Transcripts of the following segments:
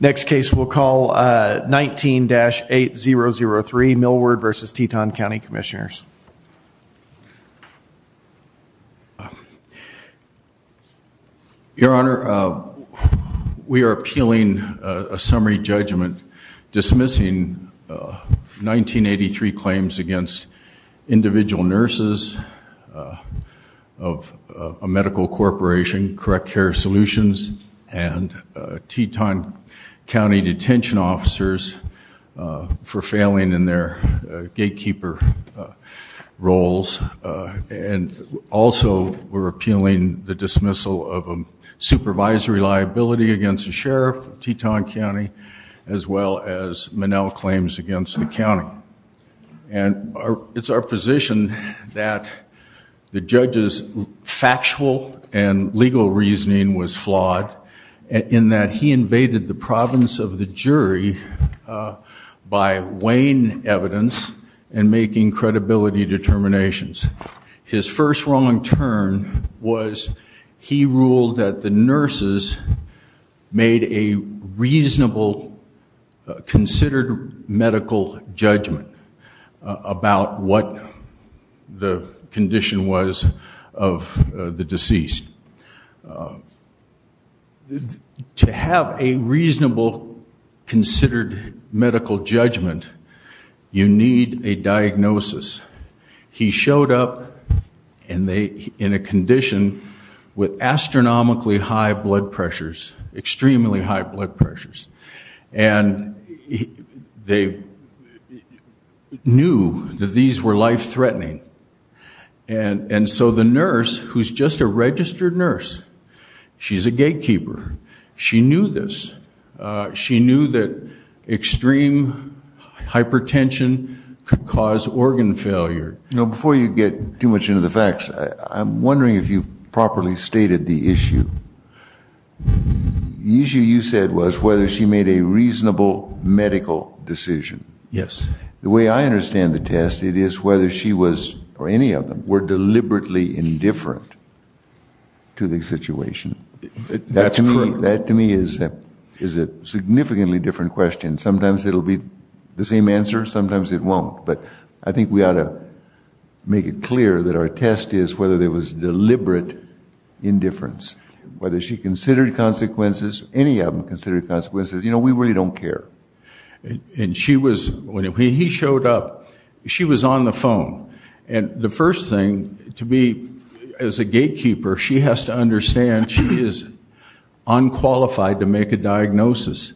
next case we'll call 19-8003 Millward versus Teton County Commissioners your honor we are appealing a summary judgment dismissing 1983 claims against individual nurses of a medical corporation correct care solutions and Teton County Detention officers for failing in their gatekeeper roles and also, we're appealing the dismissal of a supervisory liability against the sheriff of Teton County as well as Manel claims against the county and It's our position that the judge's Factual and legal reasoning was flawed in that he invaded the province of the jury by weighing evidence and making credibility determinations His first wrong turn was he ruled that the nurses made a reasonable Considered medical judgment about what the condition was of the deceased To have a reasonable considered medical judgment You need a diagnosis he showed up and they in a condition with astronomically high blood pressures extremely high blood pressures and They Knew that these were life-threatening and And so the nurse who's just a registered nurse She's a gatekeeper. She knew this She knew that extreme Hypertension could cause organ failure. No before you get too much into the facts. I'm wondering if you've properly stated the issue The issue you said was whether she made a reasonable Medical decision. Yes, the way I understand the test. It is whether she was or any of them were deliberately indifferent to the situation That to me that to me is that is a significantly different question Sometimes it'll be the same answer. Sometimes it won't but I think we ought to Make it clear that our test is whether there was deliberate Indifference whether she considered consequences any of them considered consequences, you know, we really don't care And she was when he showed up She was on the phone and the first thing to be as a gatekeeper. She has to understand she is Unqualified to make a diagnosis.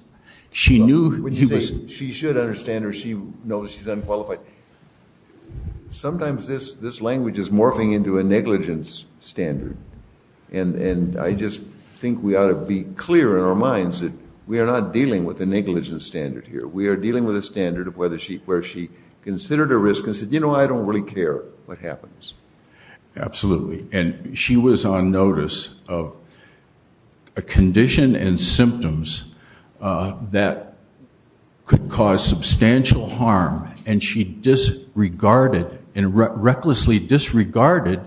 She knew he was she should understand her. She knows she's unqualified Sometimes this this language is morphing into a negligence standard and And I just think we ought to be clear in our minds that we are not dealing with the negligence standard here We are dealing with a standard of whether she where she considered a risk and said, you know, I don't really care what happens absolutely, and she was on notice of a condition and symptoms that Could cause substantial harm and she disregarded and recklessly disregarded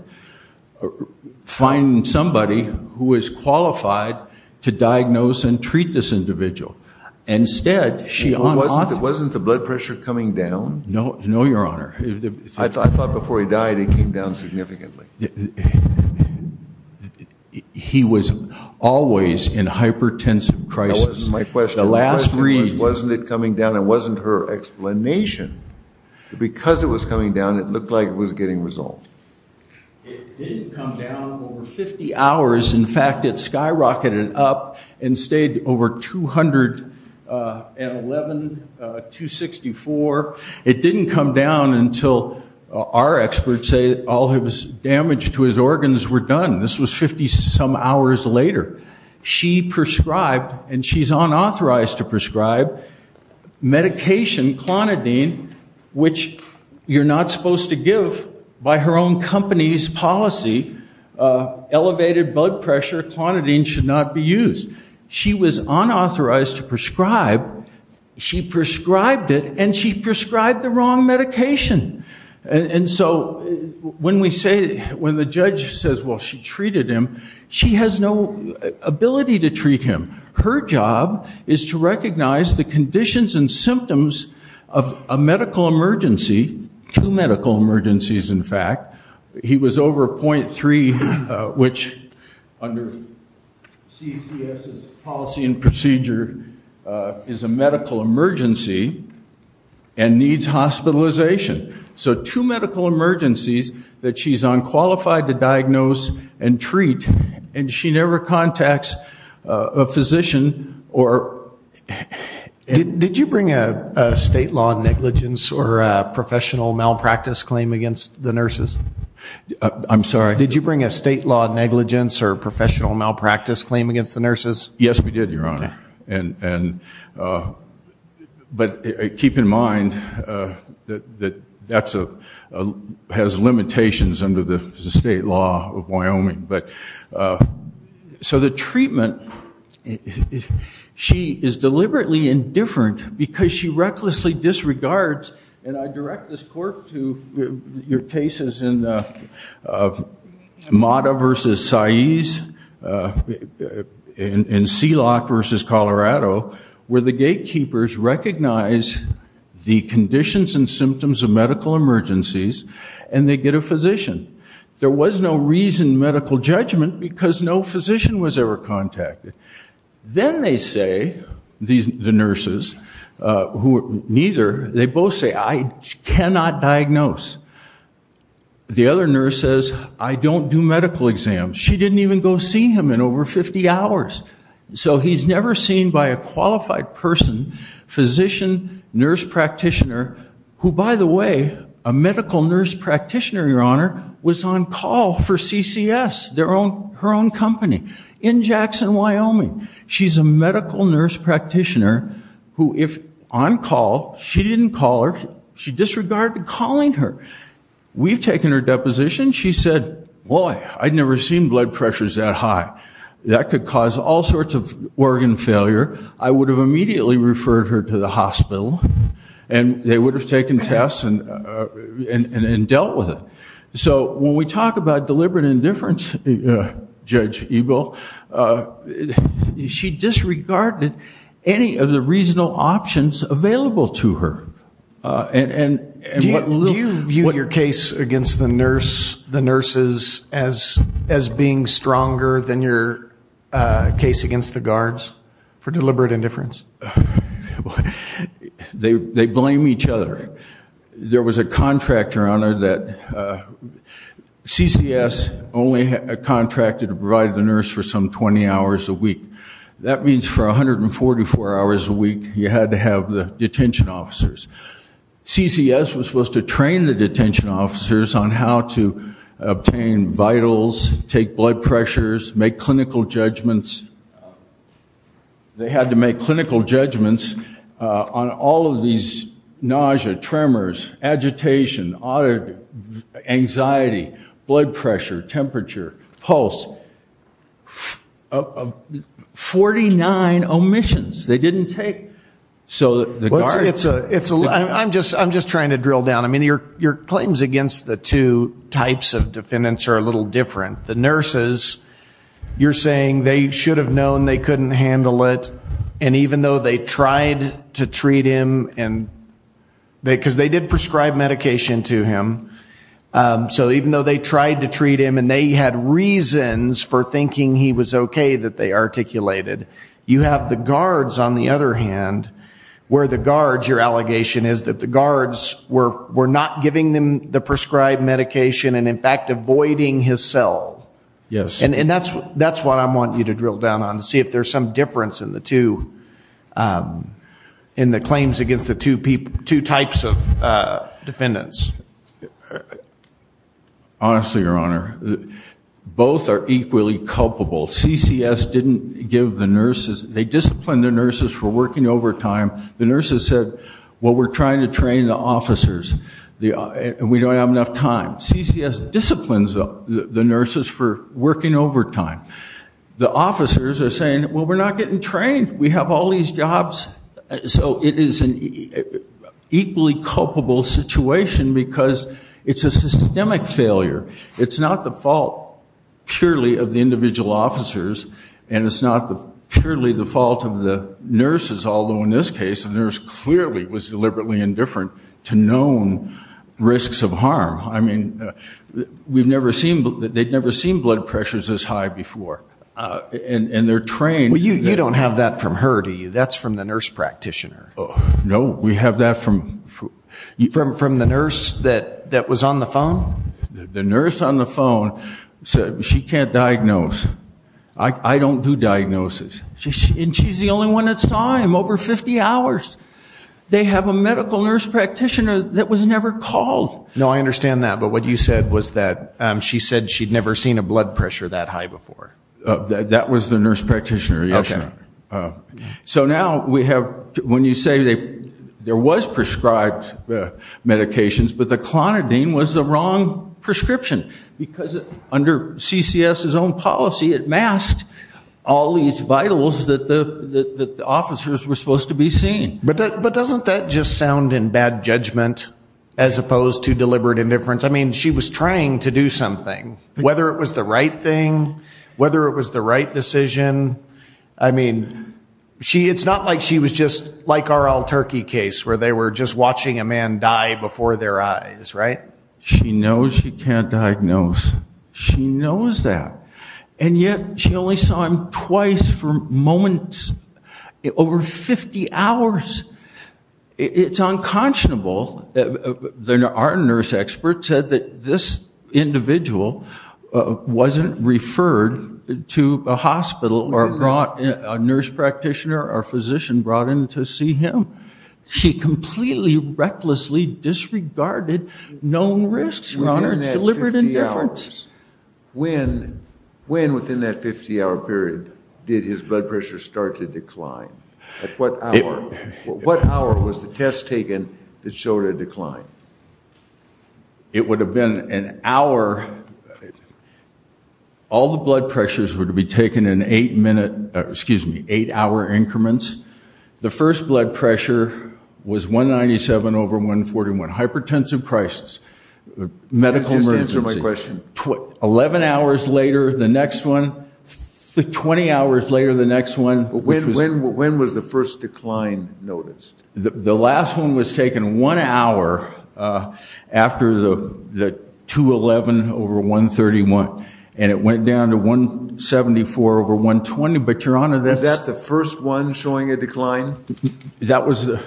Find somebody who is qualified to diagnose and treat this individual Instead she wasn't it wasn't the blood pressure coming down. No, no, your honor I thought before he died it came down significantly He Was always in hypertensive crisis my question the last three wasn't it coming down it wasn't her explanation Because it was coming down. It looked like it was getting resolved 50 hours. In fact, it skyrocketed up and stayed over 211 264 it didn't come down until Our experts say all his damage to his organs were done. This was 50 some hours later She prescribed and she's unauthorized to prescribe Medication clonidine, which you're not supposed to give by her own company's policy Elevated blood pressure clonidine should not be used. She was unauthorized to prescribe She prescribed it and she prescribed the wrong medication and so When we say when the judge says well, she treated him. She has no Ability to treat him her job is to recognize the conditions and symptoms of a medical emergency Two medical emergencies, in fact, he was over 0.3 which Policy and procedure is a medical emergency and needs hospitalization So two medical emergencies that she's unqualified to diagnose and treat and she never contacts a physician or It did you bring a state law negligence or professional malpractice claim against the nurses I'm sorry. Did you bring a state law negligence or professional malpractice claim against the nurses? Yes, we did your honor and and But keep in mind that that's a has limitations under the state law of Wyoming, but so the treatment If she is deliberately indifferent because she recklessly disregards and I direct this court to your cases in Mata versus Saiz In C lock versus Colorado where the gatekeepers recognize The conditions and symptoms of medical emergencies and they get a physician There was no reason medical judgment because no physician was ever contacted Then they say these the nurses Who neither they both say I cannot diagnose The other nurse says I don't do medical exams. She didn't even go see him in over 50 hours So he's never seen by a qualified person physician nurse practitioner Who by the way a medical nurse practitioner your honor was on call for CCS their own her own company in Jackson, Wyoming She's a medical nurse practitioner who if on call she didn't call her she disregarded calling her We've taken her deposition. She said boy. I'd never seen blood pressures that high that could cause all sorts of organ failure I would have immediately referred her to the hospital and They would have taken tests and and and dealt with it. So when we talk about deliberate indifference judge evil She disregarded any of the reasonable options available to her and what your case against the nurse the nurses as as being stronger than your case against the guards for deliberate indifference What they blame each other there was a contractor on her that CCS only a contracted to provide the nurse for some 20 hours a week That means for a hundred and forty four hours a week. You had to have the detention officers CCS was supposed to train the detention officers on how to Obtain vitals take blood pressures make clinical judgments They had to make clinical judgments on all of these nausea tremors agitation audit anxiety blood pressure temperature pulse 49 omissions they didn't take so the guard it's a it's a I'm just I'm just trying to drill down I mean your your claims against the two types of defendants are a little different the nurses You're saying they should have known they couldn't handle it and even though they tried to treat him and They because they did prescribe medication to him So even though they tried to treat him and they had reasons for thinking he was okay that they articulated You have the guards on the other hand Where the guards your allegation is that the guards were were not giving them the prescribed medication and in fact avoiding his cell Yes, and and that's that's what I want you to drill down on to see if there's some difference in the two in the claims against the two people two types of defendants Honestly your honor Both are equally culpable CCS didn't give the nurses they discipline their nurses for working overtime The nurses said what we're trying to train the officers the we don't have enough time CCS disciplines up the nurses for working overtime The officers are saying well, we're not getting trained. We have all these jobs so it is an Equally culpable situation because it's a systemic failure. It's not the fault purely of the individual officers And it's not the purely the fault of the nurses although in this case the nurse clearly was deliberately indifferent to known Risks of harm I mean We've never seen but they'd never seen blood pressures as high before And and they're trained. Well you you don't have that from her to you. That's from the nurse practitioner. Oh, no we have that from You from from the nurse that that was on the phone the nurse on the phone Said she can't diagnose. I Don't do diagnosis. She's and she's the only one that saw him over 50 hours They have a medical nurse practitioner that was never called no, I understand that but what you said was that She said she'd never seen a blood pressure that high before That was the nurse practitioner. Okay? So now we have when you say they there was prescribed Medications, but the clonidine was the wrong prescription because under CCS his own policy it masked All these vitals that the Officers were supposed to be seen but but doesn't that just sound in bad judgment as opposed to deliberate indifference I mean she was trying to do something whether it was the right thing whether it was the right decision. I mean She it's not like she was just like our all turkey case where they were just watching a man die before their eyes, right? She knows you can't diagnose She knows that and yet she only saw him twice for moments over 50 hours It's unconscionable There are nurse experts said that this individual Wasn't referred to a hospital or brought a nurse practitioner or physician brought in to see him She completely recklessly Disregarded known risks When When within that 50-hour period did his blood pressure start to decline at what? What hour was the test taken that showed a decline? It would have been an hour All the blood pressures were to be taken in eight minute, excuse me eight hour increments the first blood pressure Was 197 over 141 hypertensive crisis Medical emergency my question what 11 hours later the next one 20 hours later the next one when when when was the first decline noticed the last one was taken one hour after the the 211 over 131 and it went down to 174 over 120, but your honor that's at the first one showing a decline That was the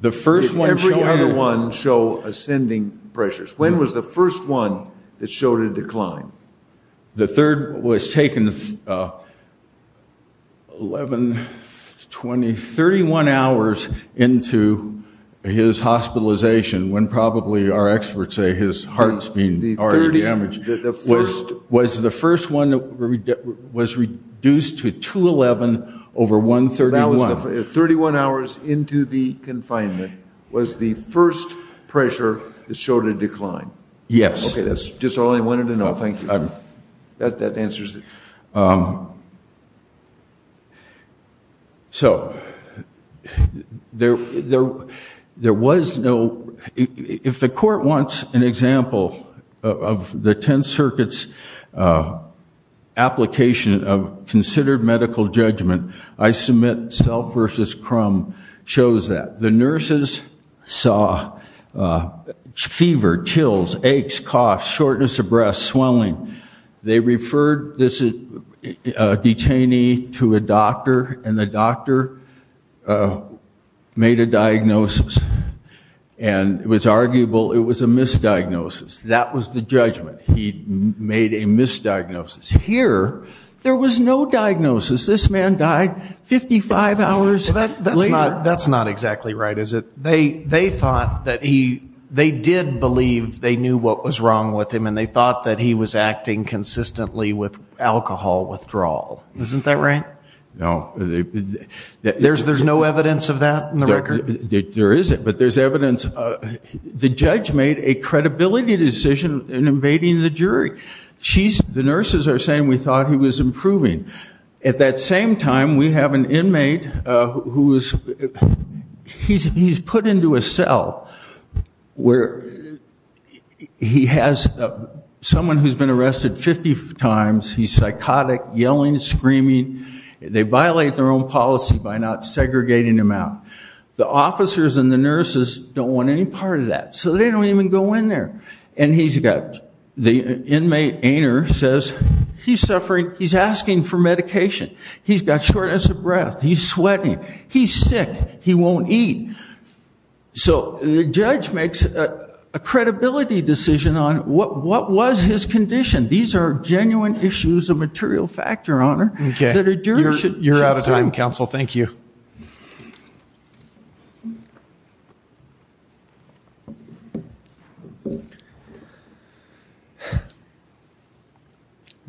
The first one every other one show ascending pressures when was the first one that showed a decline The third was taken 11 20 31 hours into His hospitalization when probably our experts say his heart's been Damaged the first was the first one that Was reduced to 211 over 131 31 hours into the confinement was the first pressure that showed a decline Yes, that's just all I wanted to know. Thank you. I'm that that answers it So There there there was no if the court wants an example of the 10 circuits Application of considered medical judgment I submit self versus crumb shows that the nurses saw Fever chills aches coughs shortness of breath swelling they referred this detainee to a doctor and the doctor Made a diagnosis and It was arguable. It was a misdiagnosis. That was the judgment Made a misdiagnosis here. There was no diagnosis this man died 55 hours That's not exactly right is it they they thought that he they did believe they knew what was wrong with him And they thought that he was acting consistently with alcohol withdrawal isn't that right no There's there's no evidence of that in the record there is it but there's evidence The judge made a credibility decision in invading the jury She's the nurses are saying we thought he was improving at that same time. We have an inmate who is He's he's put into a cell where He has Someone who's been arrested 50 times. He's psychotic yelling screaming They violate their own policy by not segregating him out the officers and the nurses don't want any part of that So they don't even go in there, and he's got the inmate aner says he's suffering He's asking for medication. He's got shortness of breath. He's sweating. He's sick. He won't eat so the judge makes a Credibility decision on what what was his condition these are genuine issues of material factor honor You're out of time counsel. Thank you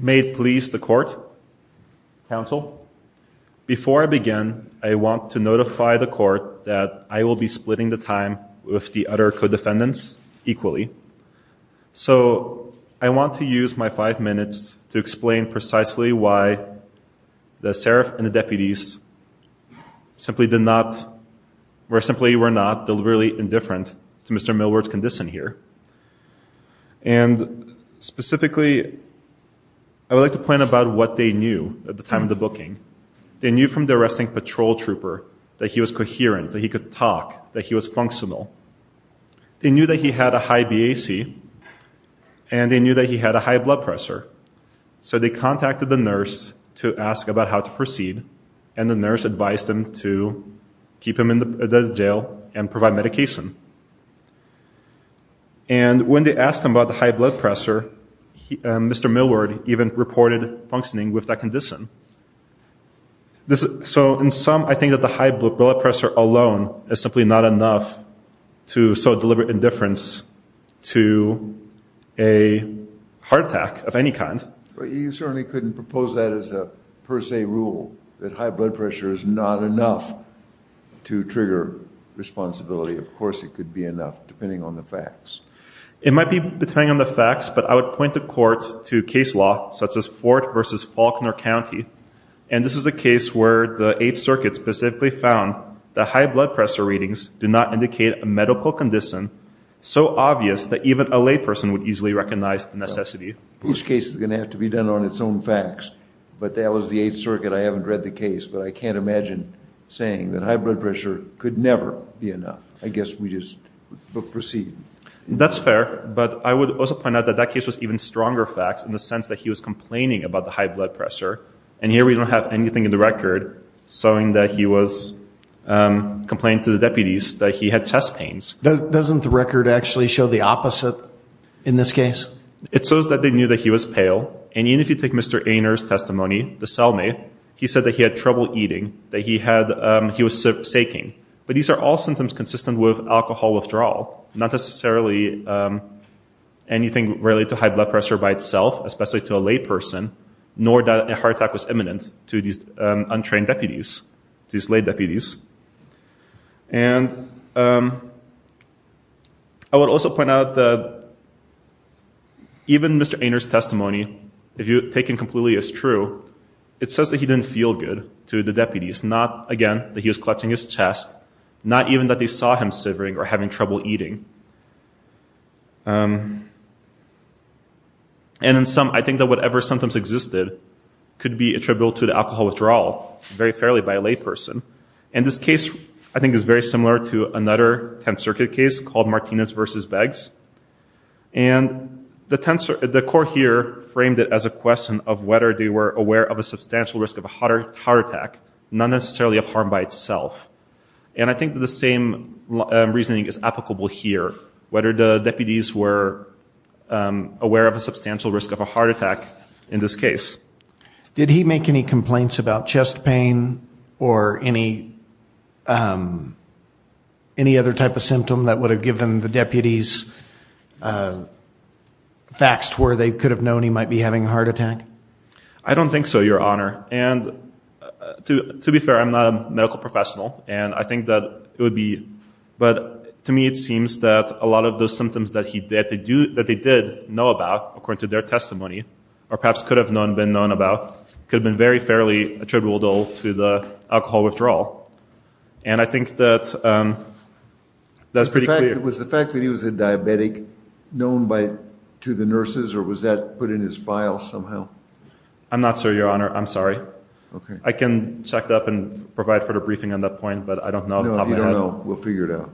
Made police the court counsel Before I begin I want to notify the court that I will be splitting the time with the other co-defendants equally So I want to use my five minutes to explain precisely why? the serif and the deputies Simply did not we're simply we're not deliberately indifferent to Mr.. Millward's condition here and Specifically I Would like to point about what they knew at the time of the booking They knew from the arresting patrol trooper that he was coherent that he could talk that he was functional they knew that he had a high BAC and They knew that he had a high blood pressure so they contacted the nurse to ask about how to proceed and the nurse advised him to keep him in the jail and provide medication and When they asked him about the high blood pressure Mr.. Millward even reported functioning with that condition This is so in some I think that the high blood pressure alone is simply not enough to so deliberate indifference to a Heart attack of any kind, but you certainly couldn't propose that as a per se rule that high blood pressure is not enough to trigger Responsibility of course it could be enough depending on the facts It might be depending on the facts But I would point the court to case law such as Fort versus Faulkner County And this is a case where the 8th circuit specifically found the high blood pressure readings do not indicate a medical condition So obvious that even a layperson would easily recognize the necessity each case is gonna have to be done on its own facts But that was the 8th circuit. I haven't read the case But I can't imagine saying that high blood pressure could never be enough. I guess we just Proceed that's fair but I would also point out that that case was even stronger facts in the sense that he was complaining about the high blood pressure and Here, we don't have anything in the record showing that he was Complaining to the deputies that he had chest pains Doesn't the record actually show the opposite in this case it shows that they knew that he was pale and even if you take mr. Aner's testimony the cellmate he said that he had trouble eating that he had he was Sinking, but these are all symptoms consistent with alcohol withdrawal not necessarily Anything related to high blood pressure by itself, especially to a layperson Nor that a heart attack was imminent to these untrained deputies these lay deputies and I Would also point out that Even mr. Aner's testimony if you take him completely as true It says that he didn't feel good to the deputies not again that he was clutching his chest Not even that they saw him severing or having trouble eating And In some I think that whatever sometimes existed Could be attributable to the alcohol withdrawal very fairly by a layperson and this case I think is very similar to another 10th Circuit case called Martinez versus bags and The tensor at the court here framed it as a question of whether they were aware of a substantial risk of a hotter tower attack Not necessarily of harm by itself, and I think the same Reasoning is applicable here whether the deputies were Aware of a substantial risk of a heart attack in this case. Did he make any complaints about chest pain or any? Any other type of symptom that would have given the deputies Facts where they could have known he might be having a heart attack. I don't think so your honor and To to be fair, I'm not a medical professional, and I think that it would be but to me It seems that a lot of those symptoms that he did they do that they did know about according to their testimony or perhaps could have known been known about could have been very fairly attributable to the alcohol withdrawal and I think that That's pretty clear was the fact that he was a diabetic Known by to the nurses or was that put in his file somehow? I'm not sir your honor. I'm sorry Okay, I can check it up and provide for the briefing on that point, but I don't know We'll figure it out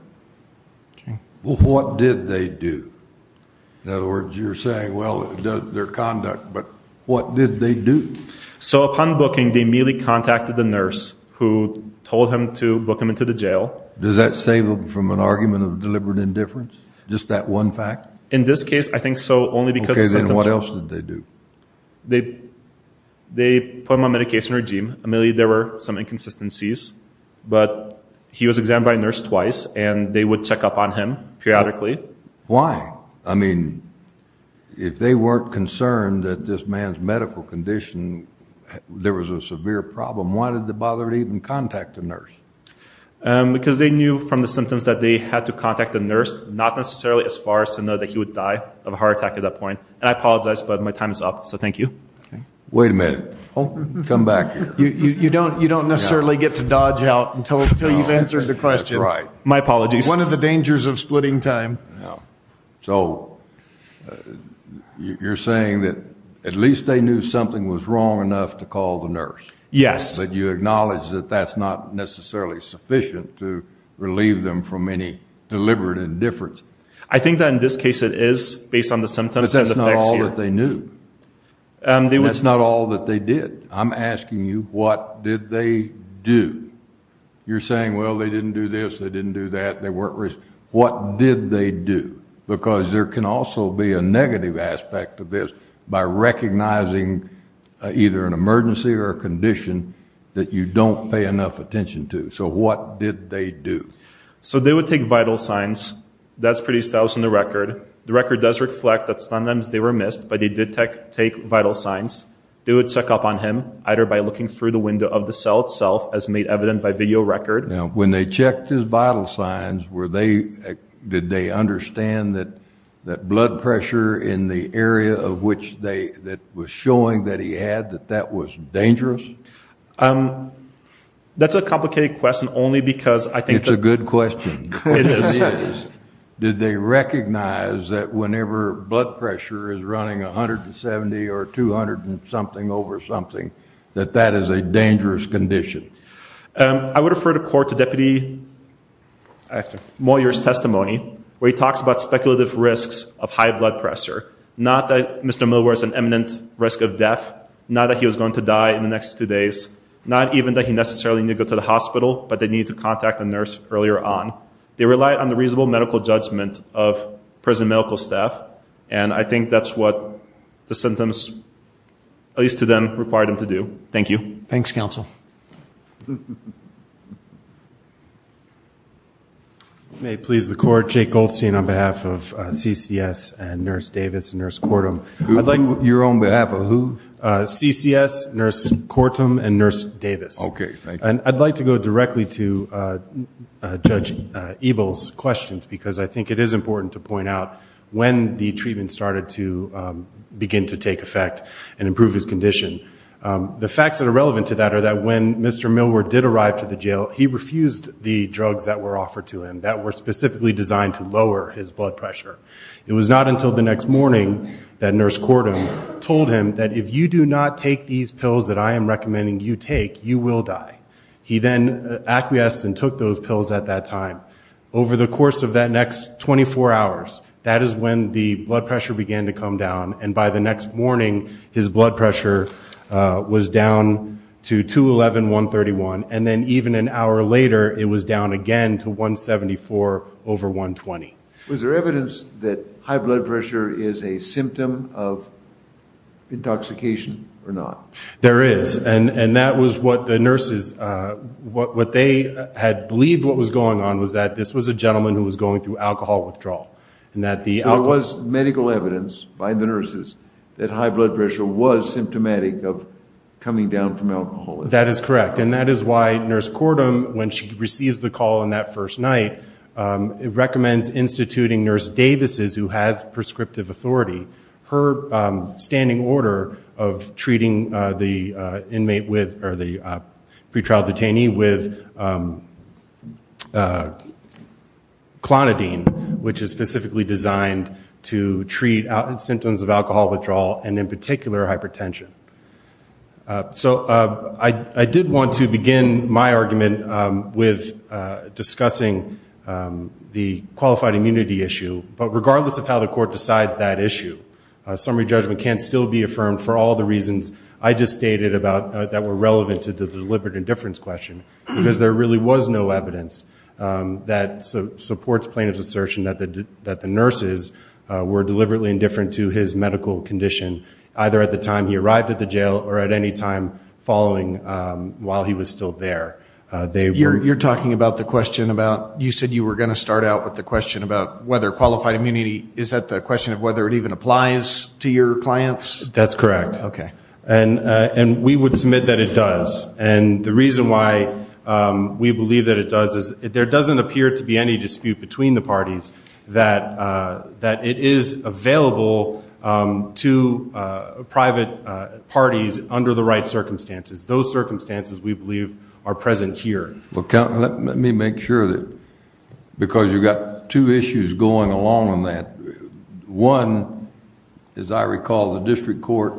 Okay, what did they do? In other words you're saying well their conduct, but what did they do? So upon booking they merely contacted the nurse who told him to book him into the jail Does that save them from an argument of deliberate indifference just that one fact in this case? I think so only because then what else did they do? they They put my medication regime Emily there were some inconsistencies But he was examined by a nurse twice, and they would check up on him periodically why I mean If they weren't concerned that this man's medical condition There was a severe problem. Why did the bothered even contact the nurse? Because they knew from the symptoms that they had to contact the nurse not necessarily as far as to know that he would die of Heart attack at that point, and I apologize, but my time is up, so thank you wait a minute. Oh come back You you don't you don't necessarily get to dodge out until you've answered the question right my apologies one of the dangers of splitting time so You're saying that at least they knew something was wrong enough to call the nurse yes But you acknowledge that that's not necessarily sufficient to relieve them from any deliberate indifference I think that in this case it is based on the symptoms. That's not all that they knew They would it's not all that they did. I'm asking you. What did they do? You're saying well. They didn't do this. They didn't do that. They weren't risk What did they do because there can also be a negative aspect of this by recognizing? Either an emergency or a condition that you don't pay enough attention to so what did they do? So they would take vital signs That's pretty stylish in the record the record does reflect that sometimes they were missed But he did take take vital signs They would check up on him either by looking through the window of the cell itself as made evident by video record now when they checked his vital signs were they Did they understand that that blood pressure in the area of which they that was showing that he had that that was? dangerous That's a complicated question only because I think it's a good question Did they recognize that whenever blood pressure is running a hundred and seventy or two hundred and something over something That that is a dangerous condition I would refer to court to deputy Moyer's testimony where he talks about speculative risks of high blood pressure not that mr. Milworth an eminent risk of death not that he was going to die in the next two days Not even that he necessarily need to go to the hospital, but they need to contact a nurse earlier on they relied on the reasonable medical judgment of Prison medical staff, and I think that's what the symptoms At least to them required him to do. Thank you. Thanks counsel May please the court Jake Goldstein on behalf of CCS and nurse Davis nurse cordom Like you're on behalf of who? CCS nurse cordom and nurse Davis, okay, and I'd like to go directly to Judge evils questions because I think it is important to point out when the treatment started to Begin to take effect and improve his condition The facts that are relevant to that are that when mr. Millward did arrive to the jail he refused the drugs that were offered to him that were specifically designed to lower his blood pressure It was not until the next morning That nurse cordon told him that if you do not take these pills that I am recommending you take you will die He then acquiesced and took those pills at that time over the course of that next 24 hours That is when the blood pressure began to come down and by the next morning his blood pressure Was down to 211 131 and then even an hour later. It was down again to 174 over 120 was there evidence that high blood pressure is a symptom of Intoxication or not there is and and that was what the nurses What what they had believed what was going on was that this was a gentleman who was going through alcohol withdrawal? and that the I was medical evidence by the nurses that high blood pressure was symptomatic of Coming down from alcohol that is correct. And that is why nurse cordon when she receives the call in that first night It recommends instituting nurse Davis's who has prescriptive authority her standing order of treating the inmate with or the pretrial detainee with Clonidine which is specifically designed to treat out and symptoms of alcohol withdrawal and in particular hypertension So I I did want to begin my argument with discussing The qualified immunity issue, but regardless of how the court decides that issue Summary judgment can still be affirmed for all the reasons I just stated about that were relevant to the deliberate indifference question because there really was no evidence That supports plaintiff's assertion that the that the nurses were deliberately indifferent to his medical condition Either at the time he arrived at the jail or at any time following While he was still there They were you're talking about the question about you said you were going to start out with the question about whether qualified immunity Is that the question of whether it even applies to your clients? That's correct Okay, and and we would submit that it does and the reason why We believe that it does is there doesn't appear to be any dispute between the parties that that it is available To private Parties under the right circumstances those circumstances. We believe are present here. Well count. Let me make sure that Because you've got two issues going along on that one as I recall the district court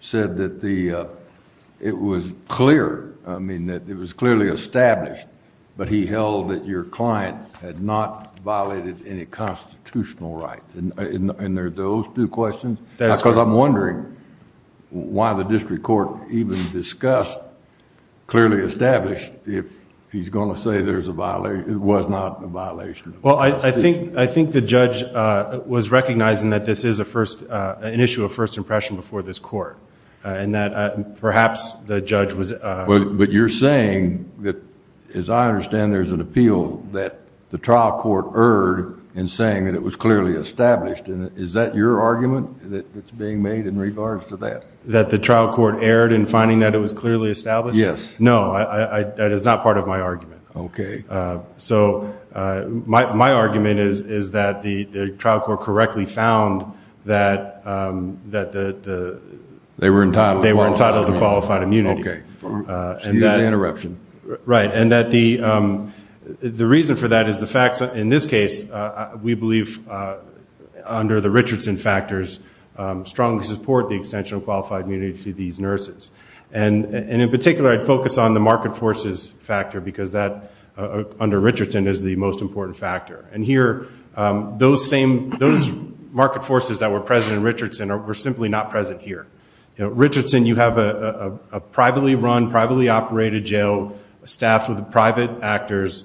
said that the It was clear. I mean that it was clearly established But he held that your client had not violated any Questions that's because I'm wondering Why the district court even discussed? Clearly established if he's going to say there's a violation. It was not a violation Well, I think I think the judge Was recognizing that this is a first an issue of first impression before this court and that perhaps the judge was But you're saying that as I understand There's an appeal that the trial court erred and saying that it was clearly established And is that your argument that it's being made in regards to that that the trial court erred in finding that it was clearly established Yes, no, I that is not part of my argument. Okay, so my argument is is that the trial court correctly found that that They were in time. They were entitled to qualified immunity And that interruption right and that the The reason for that is the facts in this case we believe under the Richardson factors strongly support the extension of qualified immunity to these nurses and And in particular I'd focus on the market forces factor because that Under Richardson is the most important factor and here those same those Market forces that were present in Richardson or were simply not present here. You know Richardson you have a Privately run privately operated jail staffed with the private actors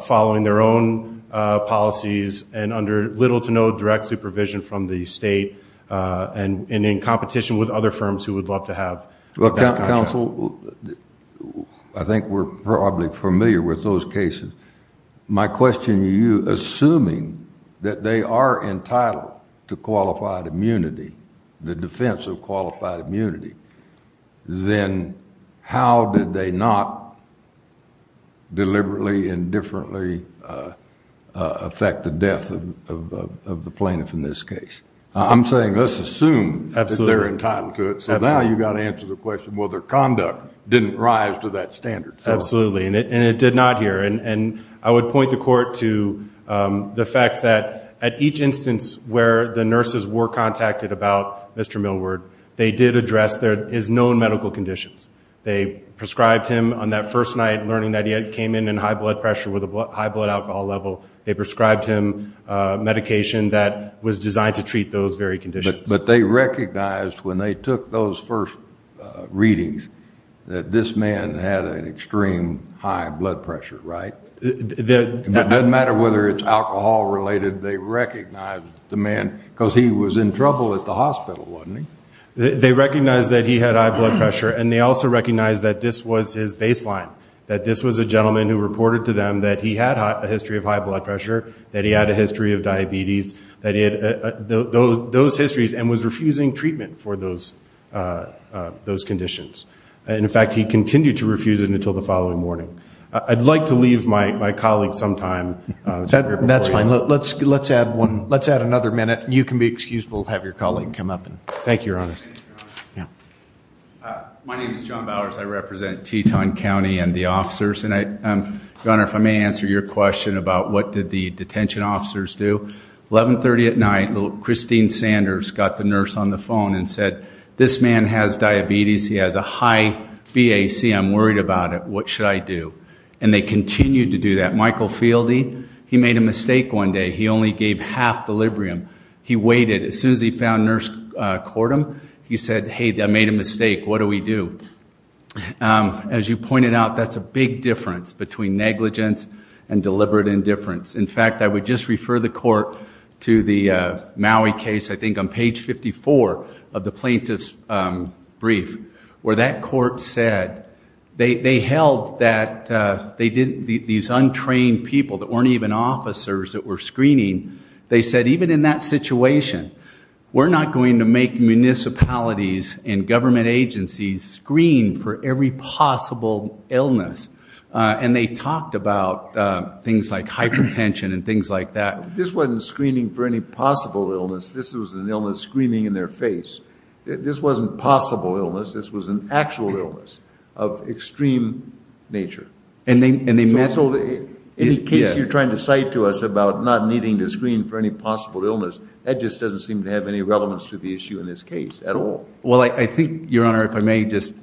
following their own Policies and under little to no direct supervision from the state And in competition with other firms who would love to have well counsel. I Think we're probably familiar with those cases My question you assuming that they are entitled to qualified immunity the defense of qualified immunity Then how did they not Deliberately and differently affect the death of The plaintiff in this case. I'm saying let's assume absolutely they're entitled to it So now you got to answer the question whether conduct didn't rise to that standard Absolutely, and it did not here and and I would point the court to The facts that at each instance where the nurses were contacted about. Mr. Millward They did address there is known medical conditions They prescribed him on that first night learning that he had came in in high blood pressure with a high blood alcohol level. They prescribed him Medication that was designed to treat those very conditions, but they recognized when they took those first Readings that this man had an extreme high blood pressure, right? The doesn't matter whether it's alcohol related they recognized the man because he was in trouble at the hospital They recognized that he had high blood pressure and they also recognized that this was his baseline that this was a gentleman who reported to them that he had a history of high blood pressure that he had a history of diabetes that he had Those histories and was refusing treatment for those Those conditions and in fact, he continued to refuse it until the following morning. I'd like to leave my colleague sometime That's fine. Let's let's add one. Let's add another minute. You can be excused We'll have your colleague come up and thank you, Your Honor My name is John Bowers I represent Teton County and the officers and I Don't know if I may answer your question about what did the detention officers do? 1130 at night little Christine Sanders got the nurse on the phone and said this man has diabetes. He has a high BAC I'm worried about it. What should I do? And they continued to do that Michael Fieldy. He made a mistake one day He only gave half deliberium. He waited as soon as he found nurse court him. He said hey that made a mistake What do we do? As you pointed out, that's a big difference between negligence and deliberate indifference In fact, I would just refer the court to the Maui case. I think I'm page 54 of the plaintiff's brief where that court said they held that They did these untrained people that weren't even officers that were screening they said even in that situation We're not going to make municipalities and government agencies screen for every possible illness And they talked about Things like hypertension and things like that. This wasn't screening for any possible illness. This was an illness screening in their face This wasn't possible illness. This was an actual illness of And they and they met so they in case you're trying to cite to us about not needing to screen for any possible illness That just doesn't seem to have any relevance to the issue in this case at all Well, I think your honor if I may just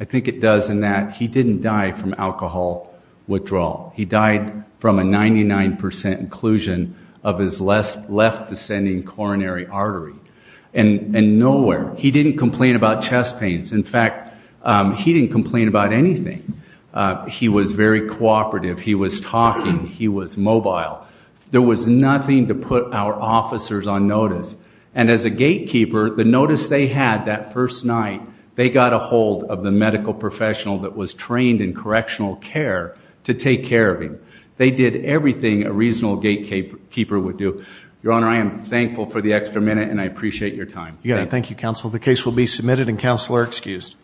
I think it does in that he didn't die from alcohol Withdrawal he died from a 99% inclusion of his less left descending coronary artery and Nowhere, he didn't complain about chest pains. In fact, he didn't complain about anything He was very cooperative he was talking he was mobile There was nothing to put our officers on notice and as a gatekeeper the notice they had that first night They got a hold of the medical professional that was trained in correctional care to take care of him They did everything a reasonable gatekeeper would do your honor I am thankful for the extra minute and I appreciate your time. Yeah. Thank you counsel. The case will be submitted and counselor excused